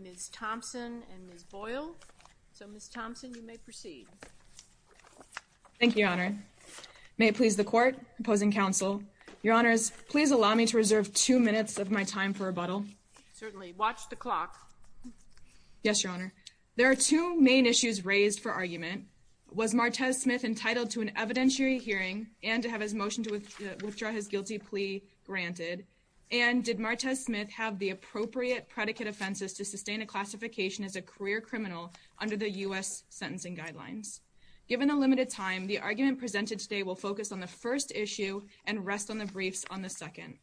Ms. Thomson and Ms. Boyle Ms. Thomson, you may proceed. Thank you, Your Honor. May it please the court, opposing counsel, Your Honors, please allow me to reserve two minutes of my time for rebuttal. Yes, Your Honor. There are two main issues raised for argument. Was Martez Smith entitled to an evidentiary hearing and to have his motion to withdraw his guilty plea granted? And did Martez Smith have the appropriate predicate offenses to sustain a classification as a career criminal under the U.S. sentencing guidelines? Given the limited time, the argument presented today will focus on the first issue and rest on the briefs on the second.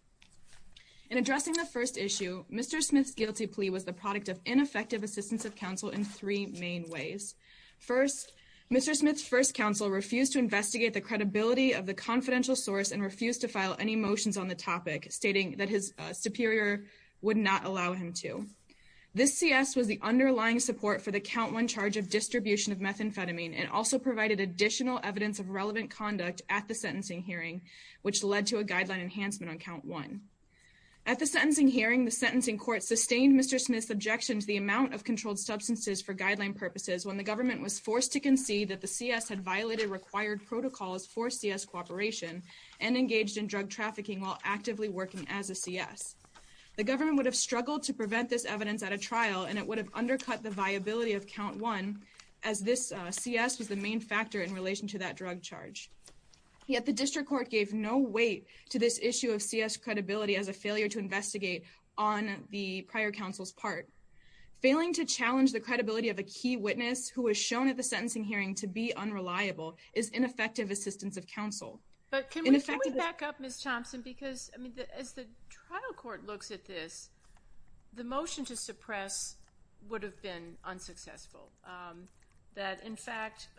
In addressing the first issue, Mr. Smith's guilty plea was the product of ineffective assistance of counsel in three main ways. First, Mr. Smith's first counsel refused to investigate the credibility of the confidential source and refused to file any motions on the topic, stating that his superior would not allow him to. This C.S. was the underlying support for the count one charge of distribution of methamphetamine and also provided additional evidence of relevant conduct at the sentencing hearing, which led to a guideline enhancement on count one. At the sentencing hearing, the sentencing court sustained Mr. Smith's objection to the amount of controlled substances for guideline purposes when the government was forced to concede that the C.S. had violated required protocols for C.S. cooperation and engaged in drug trafficking while actively working as a C.S. The government would have struggled to prevent this evidence at a trial and it would have undercut the viability of count one as this C.S. was the main factor in relation to that drug charge. Yet the district court gave no weight to this issue of C.S. credibility as a failure to investigate on the prior counsel's part. Failing to challenge the credibility of a key witness who was shown at the sentencing hearing to be unreliable is ineffective assistance of counsel. But can we back up, Ms. Thompson, because as the trial court looks at this, the motion to suppress would have been unsuccessful. That, in fact,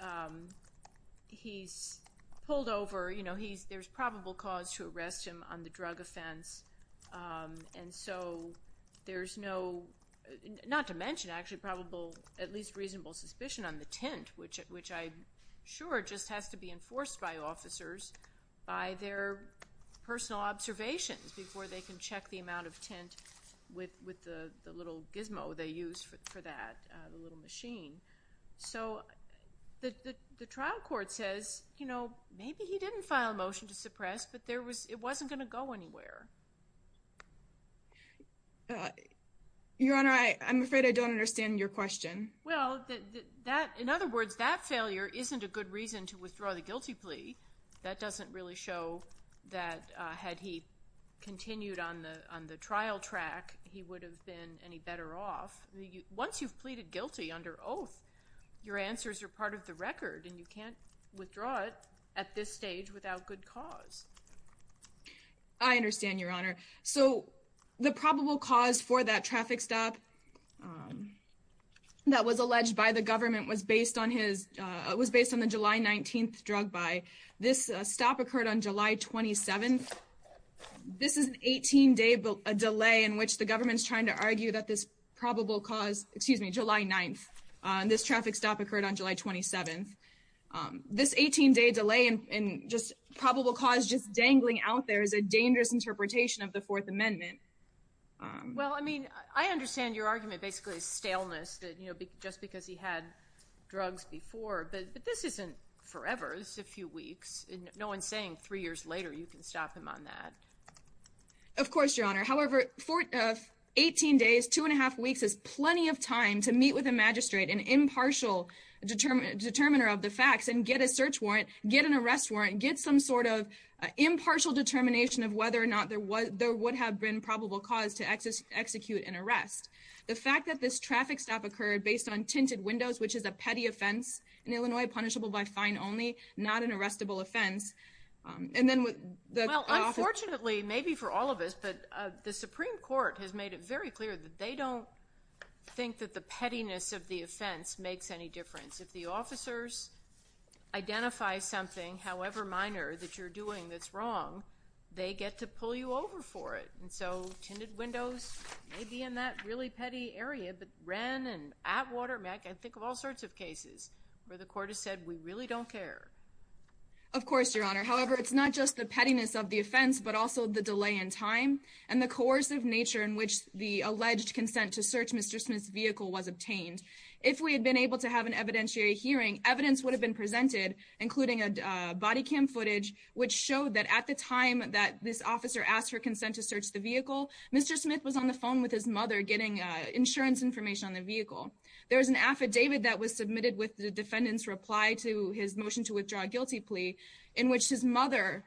he's pulled over, you know, there's probable cause to arrest him on the drug offense, and so there's no, not to mention, actually, probable, at least reasonable suspicion on the tint, which I'm sure just has to be enforced by officers by their personal observations before they can check the amount of tint with the little gizmo they use for that, the little machine. So the trial court says, you know, maybe he didn't file a motion to suppress, but it wasn't going to go anywhere. Your Honor, I'm afraid I don't understand your question. Well, that, in other words, that failure isn't a good reason to withdraw the guilty plea. That doesn't really show that had he continued on the trial track, he would have been any better off. Once you've pleaded guilty under oath, your answers are part of the record, and you can't withdraw it at this stage without good cause. I understand, Your Honor. So the probable cause for that traffic stop that was alleged by the government was based on his, was based on the July 19th drug buy. This stop occurred on July 27th. This is an 18-day delay in which the government's trying to argue that this probable cause, excuse me, July 9th, this traffic stop occurred on July 27th. This 18-day delay in just probable cause just dangling out there is a dangerous interpretation of the Fourth Amendment. Well, I mean, I understand your argument basically is staleness that, you know, just because he had drugs before. But this isn't forever. This is a few weeks. No one's saying three years later you can stop him on that. Of course, Your Honor. However, 18 days, two and a half weeks is plenty of time to meet with a magistrate, an impartial determiner of the facts, and get a search warrant, get an arrest warrant, get some sort of impartial determination of whether or not there would have been probable cause to execute an arrest. The fact that this traffic stop occurred based on tinted windows, which is a petty offense in Illinois, punishable by fine only, not an arrestable offense. Well, unfortunately, maybe for all of us, but the Supreme Court has made it very clear that they don't think that the pettiness of the offense makes any difference. If the officers identify something, however minor, that you're doing that's wrong, they get to pull you over for it. And so tinted windows may be in that really petty area, but Wren and at Watermeck, I think of all sorts of cases where the court has said we really don't care. Of course, Your Honor. However, it's not just the pettiness of the offense, but also the delay in time and the coercive nature in which the alleged consent to search Mr. Smith's vehicle was obtained. If we had been able to have an evidentiary hearing, evidence would have been presented, including body cam footage, which showed that at the time that this officer asked for consent to search the vehicle, Mr. Smith was on the phone with his mother getting insurance information on the vehicle. There was an affidavit that was submitted with the defendant's reply to his motion to withdraw a guilty plea in which his mother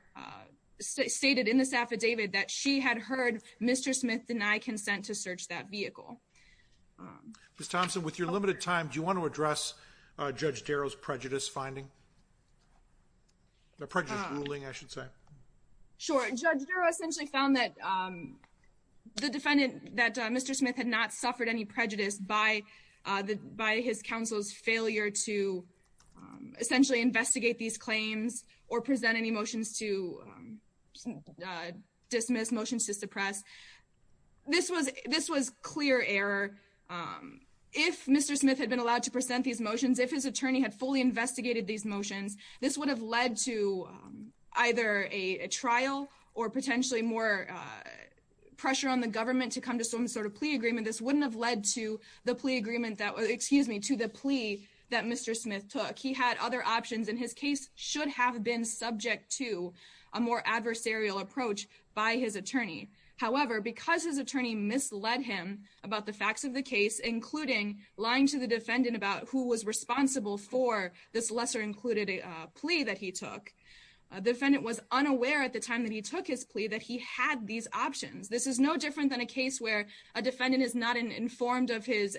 stated in this affidavit that she had heard Mr. Smith deny consent to search that vehicle. Ms. Thompson, with your limited time, do you want to address Judge Darrow's prejudice finding? Prejudice ruling, I should say. Sure. Judge Darrow essentially found that Mr. Smith had not suffered any prejudice by his counsel's failure to essentially investigate these claims or present any motions to dismiss, motions to suppress. This was clear error. If Mr. Smith had been allowed to present these motions, if his attorney had fully investigated these motions, this would have led to either a trial or potentially more pressure on the government to come to some sort of plea agreement. This wouldn't have led to the plea agreement that was, excuse me, to the plea that Mr. Smith took. He had other options and his case should have been subject to a more adversarial approach by his attorney. However, because his attorney misled him about the facts of the case, including lying to the defendant about who was responsible for this lesser included plea that he took, the defendant was unaware at the time that he took his plea that he had these options. This is no different than a case where a defendant is not informed of his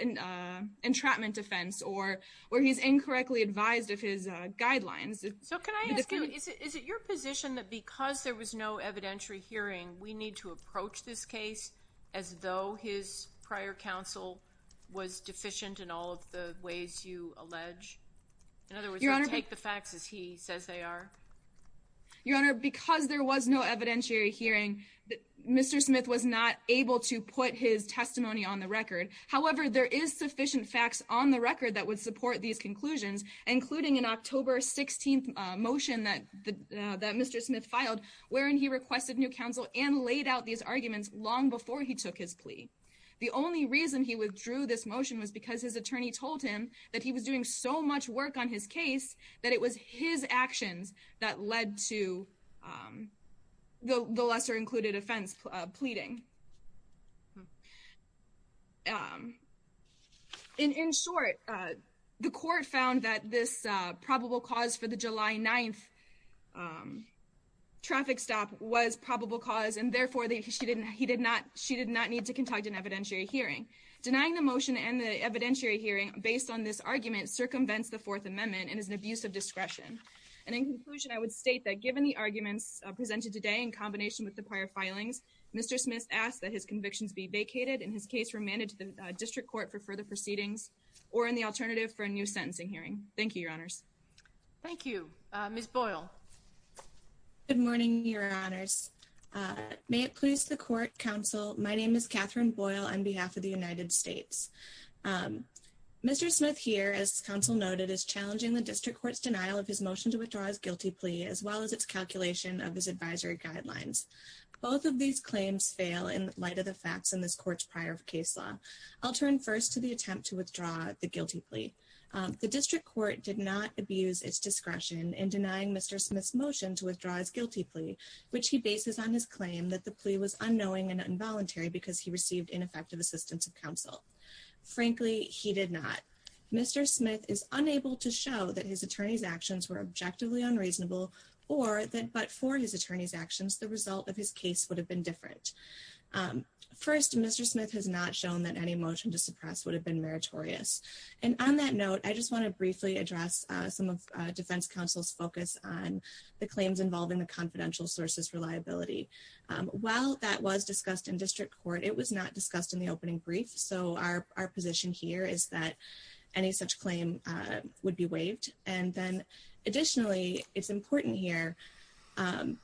entrapment defense or where he's incorrectly advised of his guidelines. So can I ask you, is it your position that because there was no evidentiary hearing, we need to approach this case as though his prior counsel was deficient in all of the ways you allege? In other words, we take the facts as he says they are? Your Honor, because there was no evidentiary hearing, Mr. Smith was not able to put his testimony on the record. However, there is sufficient facts on the record that would support these conclusions, including an October 16th motion that Mr. Smith filed wherein he requested new counsel and laid out these arguments long before he took his plea. The only reason he withdrew this motion was because his attorney told him that he was doing so much work on his case that it was his actions that led to the lesser included offense pleading. In short, the court found that this probable cause for the July 9th traffic stop was probable cause and therefore she did not need to conduct an evidentiary hearing. Denying the motion and the evidentiary hearing based on this argument circumvents the Fourth Amendment and is an abuse of discretion. In conclusion, I would state that given the arguments presented today in combination with the prior filings, Mr. Smith asked that his convictions be vacated and his case remanded to the district court for further proceedings or in the alternative for a new sentencing hearing. Thank you, Your Honors. Thank you. Ms. Boyle. Good morning, Your Honors. May it please the court, counsel, my name is Catherine Boyle on behalf of the United States. Mr. Smith here, as counsel noted, is challenging the district court's denial of his motion to withdraw his guilty plea as well as its calculation of his advisory guidelines. Both of these claims fail in light of the facts in this court's prior case law. I'll turn first to the attempt to withdraw the guilty plea. The district court did not abuse its discretion in denying Mr. Smith's motion to withdraw his guilty plea, which he bases on his claim that the plea was unknowing and involuntary because he received ineffective assistance of counsel. Frankly, he did not. Mr. Smith is unable to show that his attorney's actions were objectively unreasonable or that but for his attorney's actions the result of his case would have been different. First, Mr. Smith has not shown that any motion to suppress would have been meritorious. And on that note, I just want to briefly address some of defense counsel's focus on the claims involving the confidential sources reliability. While that was discussed in district court, it was not discussed in the opening brief. So our position here is that any such claim would be waived. Additionally, it's important here.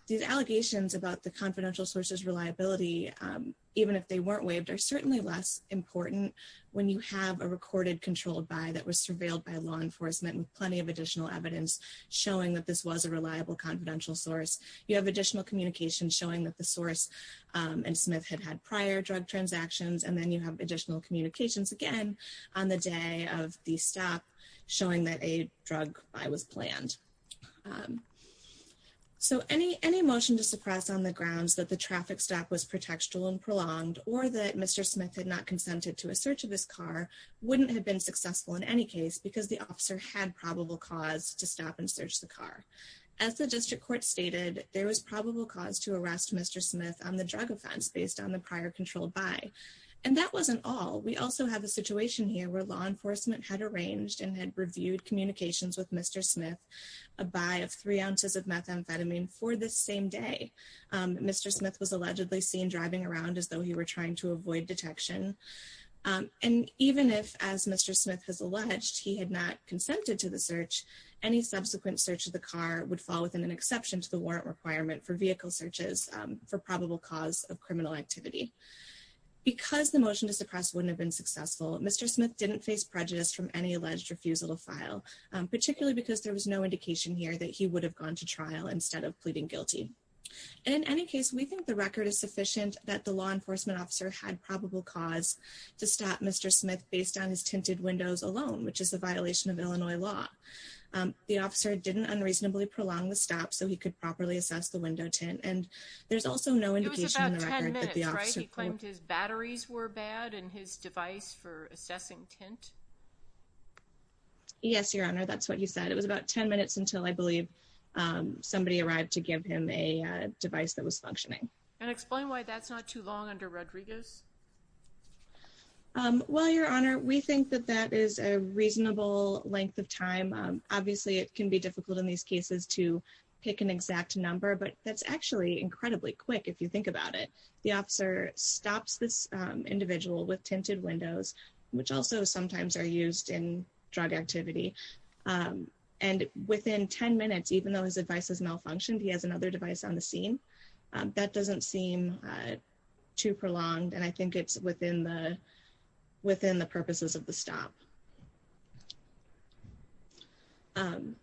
These allegations about the confidential sources reliability, even if they weren't waived, are certainly less important when you have a recorded controlled by that was surveilled by law enforcement with plenty of additional evidence showing that this was a reliable confidential source. You have additional communication showing that the source and Smith had had prior drug transactions. And then you have additional communications again on the day of the stop, showing that a drug by was planned. So any any motion to suppress on the grounds that the traffic stop was protection and prolonged or that Mr. Smith had not consented to a search of this car wouldn't have been successful in any case because the officer had probable cause to stop and search the car. As the district court stated, there was probable cause to arrest Mr. Smith on the drug offense based on the prior controlled by. And that wasn't all. We also have a situation here where law enforcement had arranged and had reviewed communications with Mr. Smith, a buy of three ounces of methamphetamine for the same day. Mr. Smith was allegedly seen driving around as though he were trying to avoid detection. And even if, as Mr. Smith has alleged, he had not consented to the search, any subsequent search of the car would fall within an exception to the warrant requirement for vehicle searches for probable cause of criminal activity. Because the motion to suppress wouldn't have been successful, Mr. Smith didn't face prejudice from any alleged refusal to file, particularly because there was no indication here that he would have gone to trial instead of pleading guilty. And in any case, we think the record is sufficient that the law enforcement officer had probable cause to stop Mr. Smith based on his tinted windows alone, which is a violation of Illinois law. The officer didn't unreasonably prolong the stop so he could properly assess the window tint. And there's also no indication that the officer claimed his batteries were bad and his device for assessing tint. Yes, Your Honor, that's what he said. It was about 10 minutes until I believe somebody arrived to give him a device that was functioning. And explain why that's not too long under Rodriguez. Well, Your Honor, we think that that is a reasonable length of time. Obviously, it can be difficult in these cases to pick an exact number, but that's actually incredibly quick if you think about it. The officer stops this individual with tinted windows, which also sometimes are used in drug activity. And within 10 minutes, even though his device has malfunctioned, he has another device on the scene. That doesn't seem too prolonged, and I think it's within the purposes of the stop. And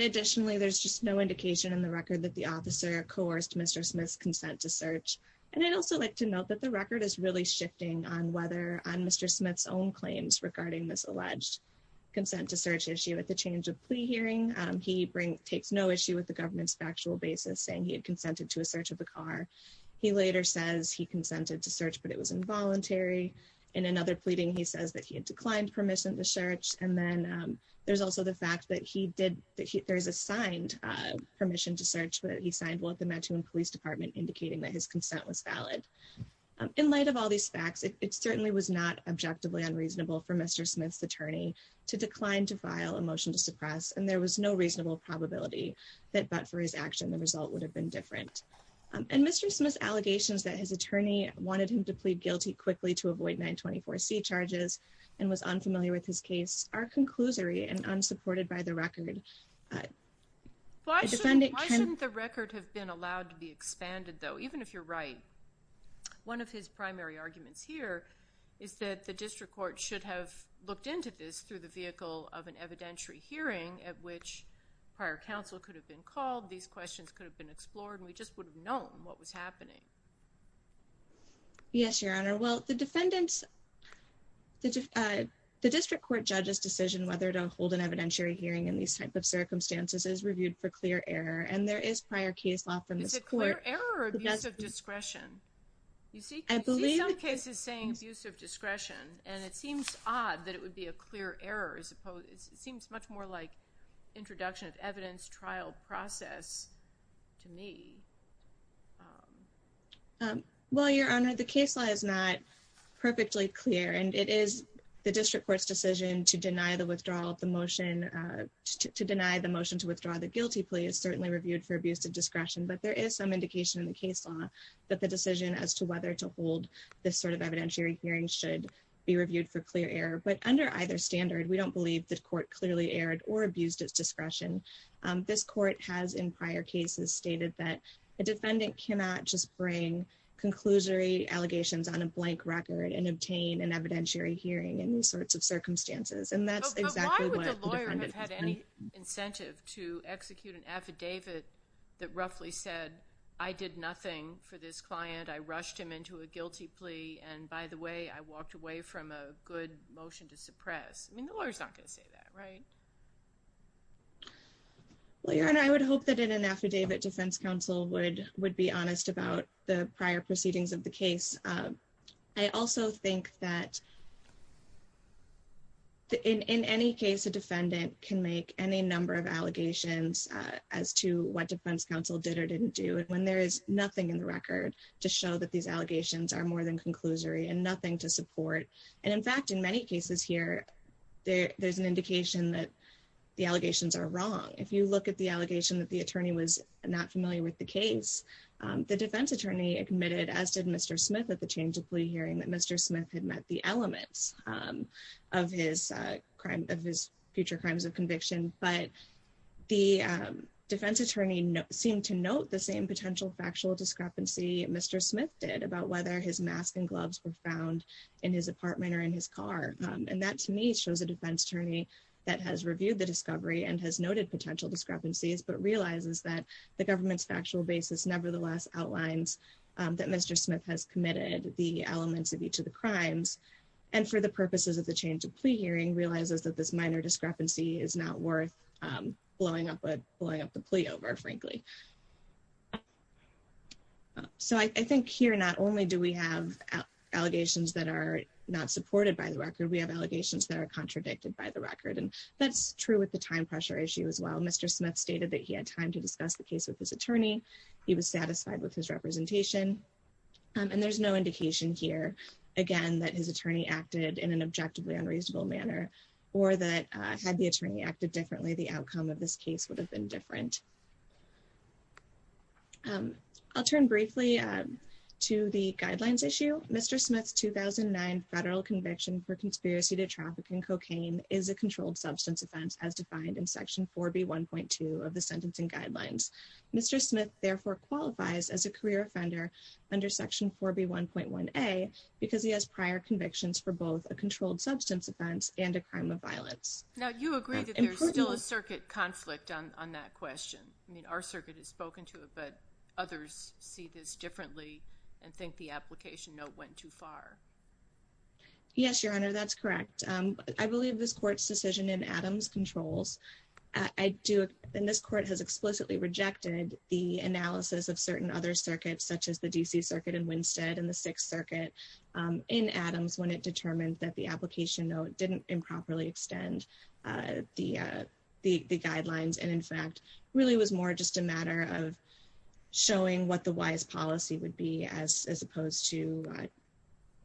additionally, there's just no indication in the record that the officer coerced Mr. Smith's consent to search. And I'd also like to note that the record is really shifting on Mr. Smith's own claims regarding this alleged consent to search issue at the change of plea hearing. He takes no issue with the government's factual basis saying he had consented to a search of the car. He later says he consented to search, but it was involuntary. In another pleading, he says that he had declined permission to search. And then there's also the fact that he did that. There is a signed permission to search, but he signed with the Metun Police Department, indicating that his consent was valid. In light of all these facts, it certainly was not objectively unreasonable for Mr. Smith's attorney to decline to file a motion to suppress. And there was no reasonable probability that, but for his action, the result would have been different. And Mr. Smith's allegations that his attorney wanted him to plead guilty quickly to avoid 924C charges and was unfamiliar with his case are conclusory and unsupported by the record. Why shouldn't the record have been allowed to be expanded, though? Even if you're right, one of his primary arguments here is that the district court should have looked into this through the vehicle of an evidentiary hearing at which prior counsel could have been called. All of these questions could have been explored, and we just would have known what was happening. Yes, Your Honor. Well, the defendant's – the district court judge's decision whether to hold an evidentiary hearing in these type of circumstances is reviewed for clear error. And there is prior case law from this court – Is it clear error or abuse of discretion? You see some cases saying abuse of discretion. And it seems odd that it would be a clear error. It seems much more like introduction of evidence trial process to me. Well, Your Honor, the case law is not perfectly clear. And it is the district court's decision to deny the withdrawal of the motion – to deny the motion to withdraw the guilty plea is certainly reviewed for abuse of discretion. But there is some indication in the case law that the decision as to whether to hold this sort of evidentiary hearing should be reviewed for clear error. But under either standard, we don't believe the court clearly erred or abused its discretion. This court has in prior cases stated that a defendant cannot just bring conclusory allegations on a blank record and obtain an evidentiary hearing in these sorts of circumstances. But why would the lawyer have had any incentive to execute an affidavit that roughly said, I did nothing for this client, I rushed him into a guilty plea, and by the way, I walked away from a good motion to suppress? I mean, the lawyer's not going to say that, right? Well, Your Honor, I would hope that an affidavit defense counsel would be honest about the prior proceedings of the case. I also think that in any case, a defendant can make any number of allegations as to what defense counsel did or didn't do, when there is nothing in the record to show that these allegations are more than conclusory and nothing to support. And in fact, in many cases here, there's an indication that the allegations are wrong. If you look at the allegation that the attorney was not familiar with the case, the defense attorney admitted, as did Mr. Smith at the change of plea hearing, that Mr. Smith had met the elements of his future crimes of conviction. But the defense attorney seemed to note the same potential factual discrepancy Mr. Smith did about whether his mask and gloves were found in his apartment or in his car. And that, to me, shows a defense attorney that has reviewed the discovery and has noted potential discrepancies, but realizes that the government's factual basis nevertheless outlines that Mr. Smith has committed the elements of each of the crimes, and for the purposes of the change of plea hearing, realizes that this minor discrepancy is not worth blowing up the plea over, frankly. So I think here, not only do we have allegations that are not supported by the record, we have allegations that are contradicted by the record. And that's true with the time pressure issue as well. Mr. Smith stated that he had time to discuss the case with his attorney. He was satisfied with his representation. And there's no indication here, again, that his attorney acted in an objectively unreasonable manner, or that had the attorney acted differently, the outcome of this case would have been different. I'll turn briefly to the guidelines issue. Mr. Smith's 2009 federal conviction for conspiracy to traffic and cocaine is a controlled substance offense, as defined in Section 4B1.2 of the Sentencing Guidelines. Mr. Smith, therefore, qualifies as a career offender under Section 4B1.1a, because he has prior convictions for both a controlled substance offense and a crime of violence. Now, you agree that there's still a circuit conflict on that question. I mean, our circuit has spoken to it, but others see this differently and think the application note went too far. Yes, Your Honor, that's correct. I believe this court's decision in Adams controls. And this court has explicitly rejected the analysis of certain other circuits, such as the D.C. Circuit in Winstead and the Sixth Circuit in Adams, when it determined that the application note didn't improperly extend the guidelines, and, in fact, really was more just a matter of showing what the wise policy would be, as opposed to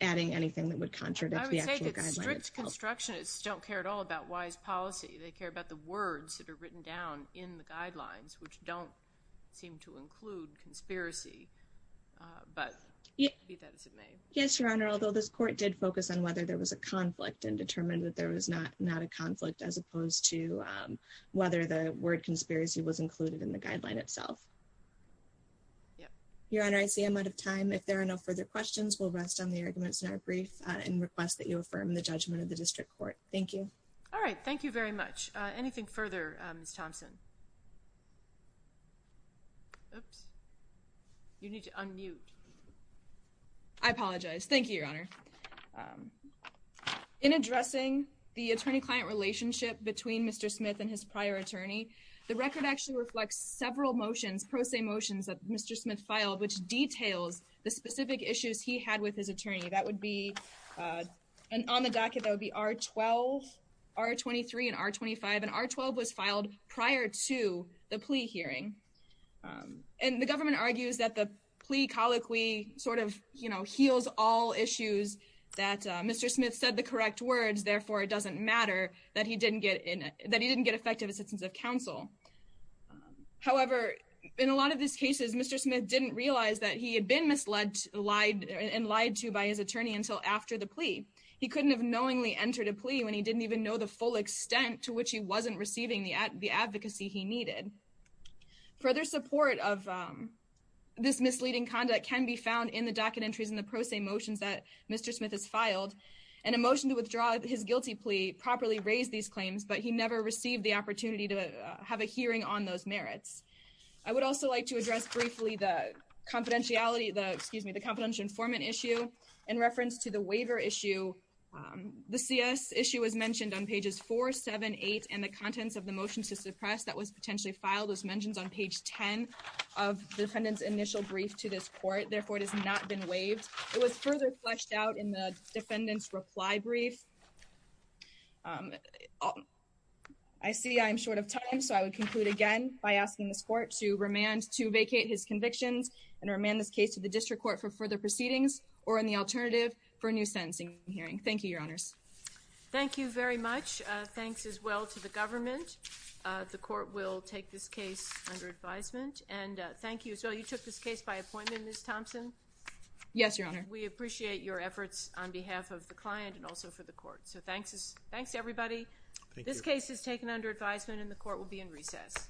adding anything that would contradict the actual guidelines. I would say that strict constructionists don't care at all about wise policy. They care about the words that are written down in the guidelines, which don't seem to include conspiracy. But, be that as it may. Yes, Your Honor, although this court did focus on whether there was a conflict and determined that there was not a conflict, as opposed to whether the word conspiracy was included in the guideline itself. Your Honor, I see I'm out of time. If there are no further questions, we'll rest on the arguments in our brief and request that you affirm the judgment of the District Court. Thank you. All right. Thank you very much. Anything further, Ms. Thompson? Oops. You need to unmute. I apologize. Thank you, Your Honor. In addressing the attorney-client relationship between Mr. Smith and his prior attorney, the record actually reflects several motions, pro se motions, that Mr. Smith filed, which details the specific issues he had with his attorney. That would be, on the docket, that would be R-12, R-23, and R-25. And R-12 was filed prior to the plea hearing. And the government argues that the plea colloquy sort of, you know, heals all issues that Mr. Smith said the correct words, therefore it doesn't matter that he didn't get effective assistance of counsel. However, in a lot of these cases, Mr. Smith didn't realize that he had been misled and lied to by his attorney until after the plea. He couldn't have knowingly entered a plea when he didn't even know the full extent to which he wasn't receiving the advocacy he needed. Further support of this misleading conduct can be found in the docket entries and the pro se motions that Mr. Smith has filed. And a motion to withdraw his guilty plea properly raised these claims, but he never received the opportunity to have a hearing on those merits. I would also like to address briefly the confidentiality, the, excuse me, the confidential informant issue in reference to the waiver issue. The CS issue was mentioned on pages 4, 7, 8, and the contents of the motions to suppress that was potentially filed was mentioned on page 10 of the defendant's initial brief to this court. Therefore, it has not been waived. It was further fleshed out in the defendant's reply brief. I see I'm short of time. So I would conclude again by asking this court to remand to vacate his convictions and remand this case to the district court for further proceedings or in the alternative for a new sentencing hearing. Thank you, Your Honors. Thank you very much. Thanks as well to the government. The court will take this case under advisement. And thank you as well. You took this case by appointment, Ms. Thompson? Yes, Your Honor. We appreciate your efforts on behalf of the client and also for the court. So thanks to everybody. This case is taken under advisement, and the court will be in recess.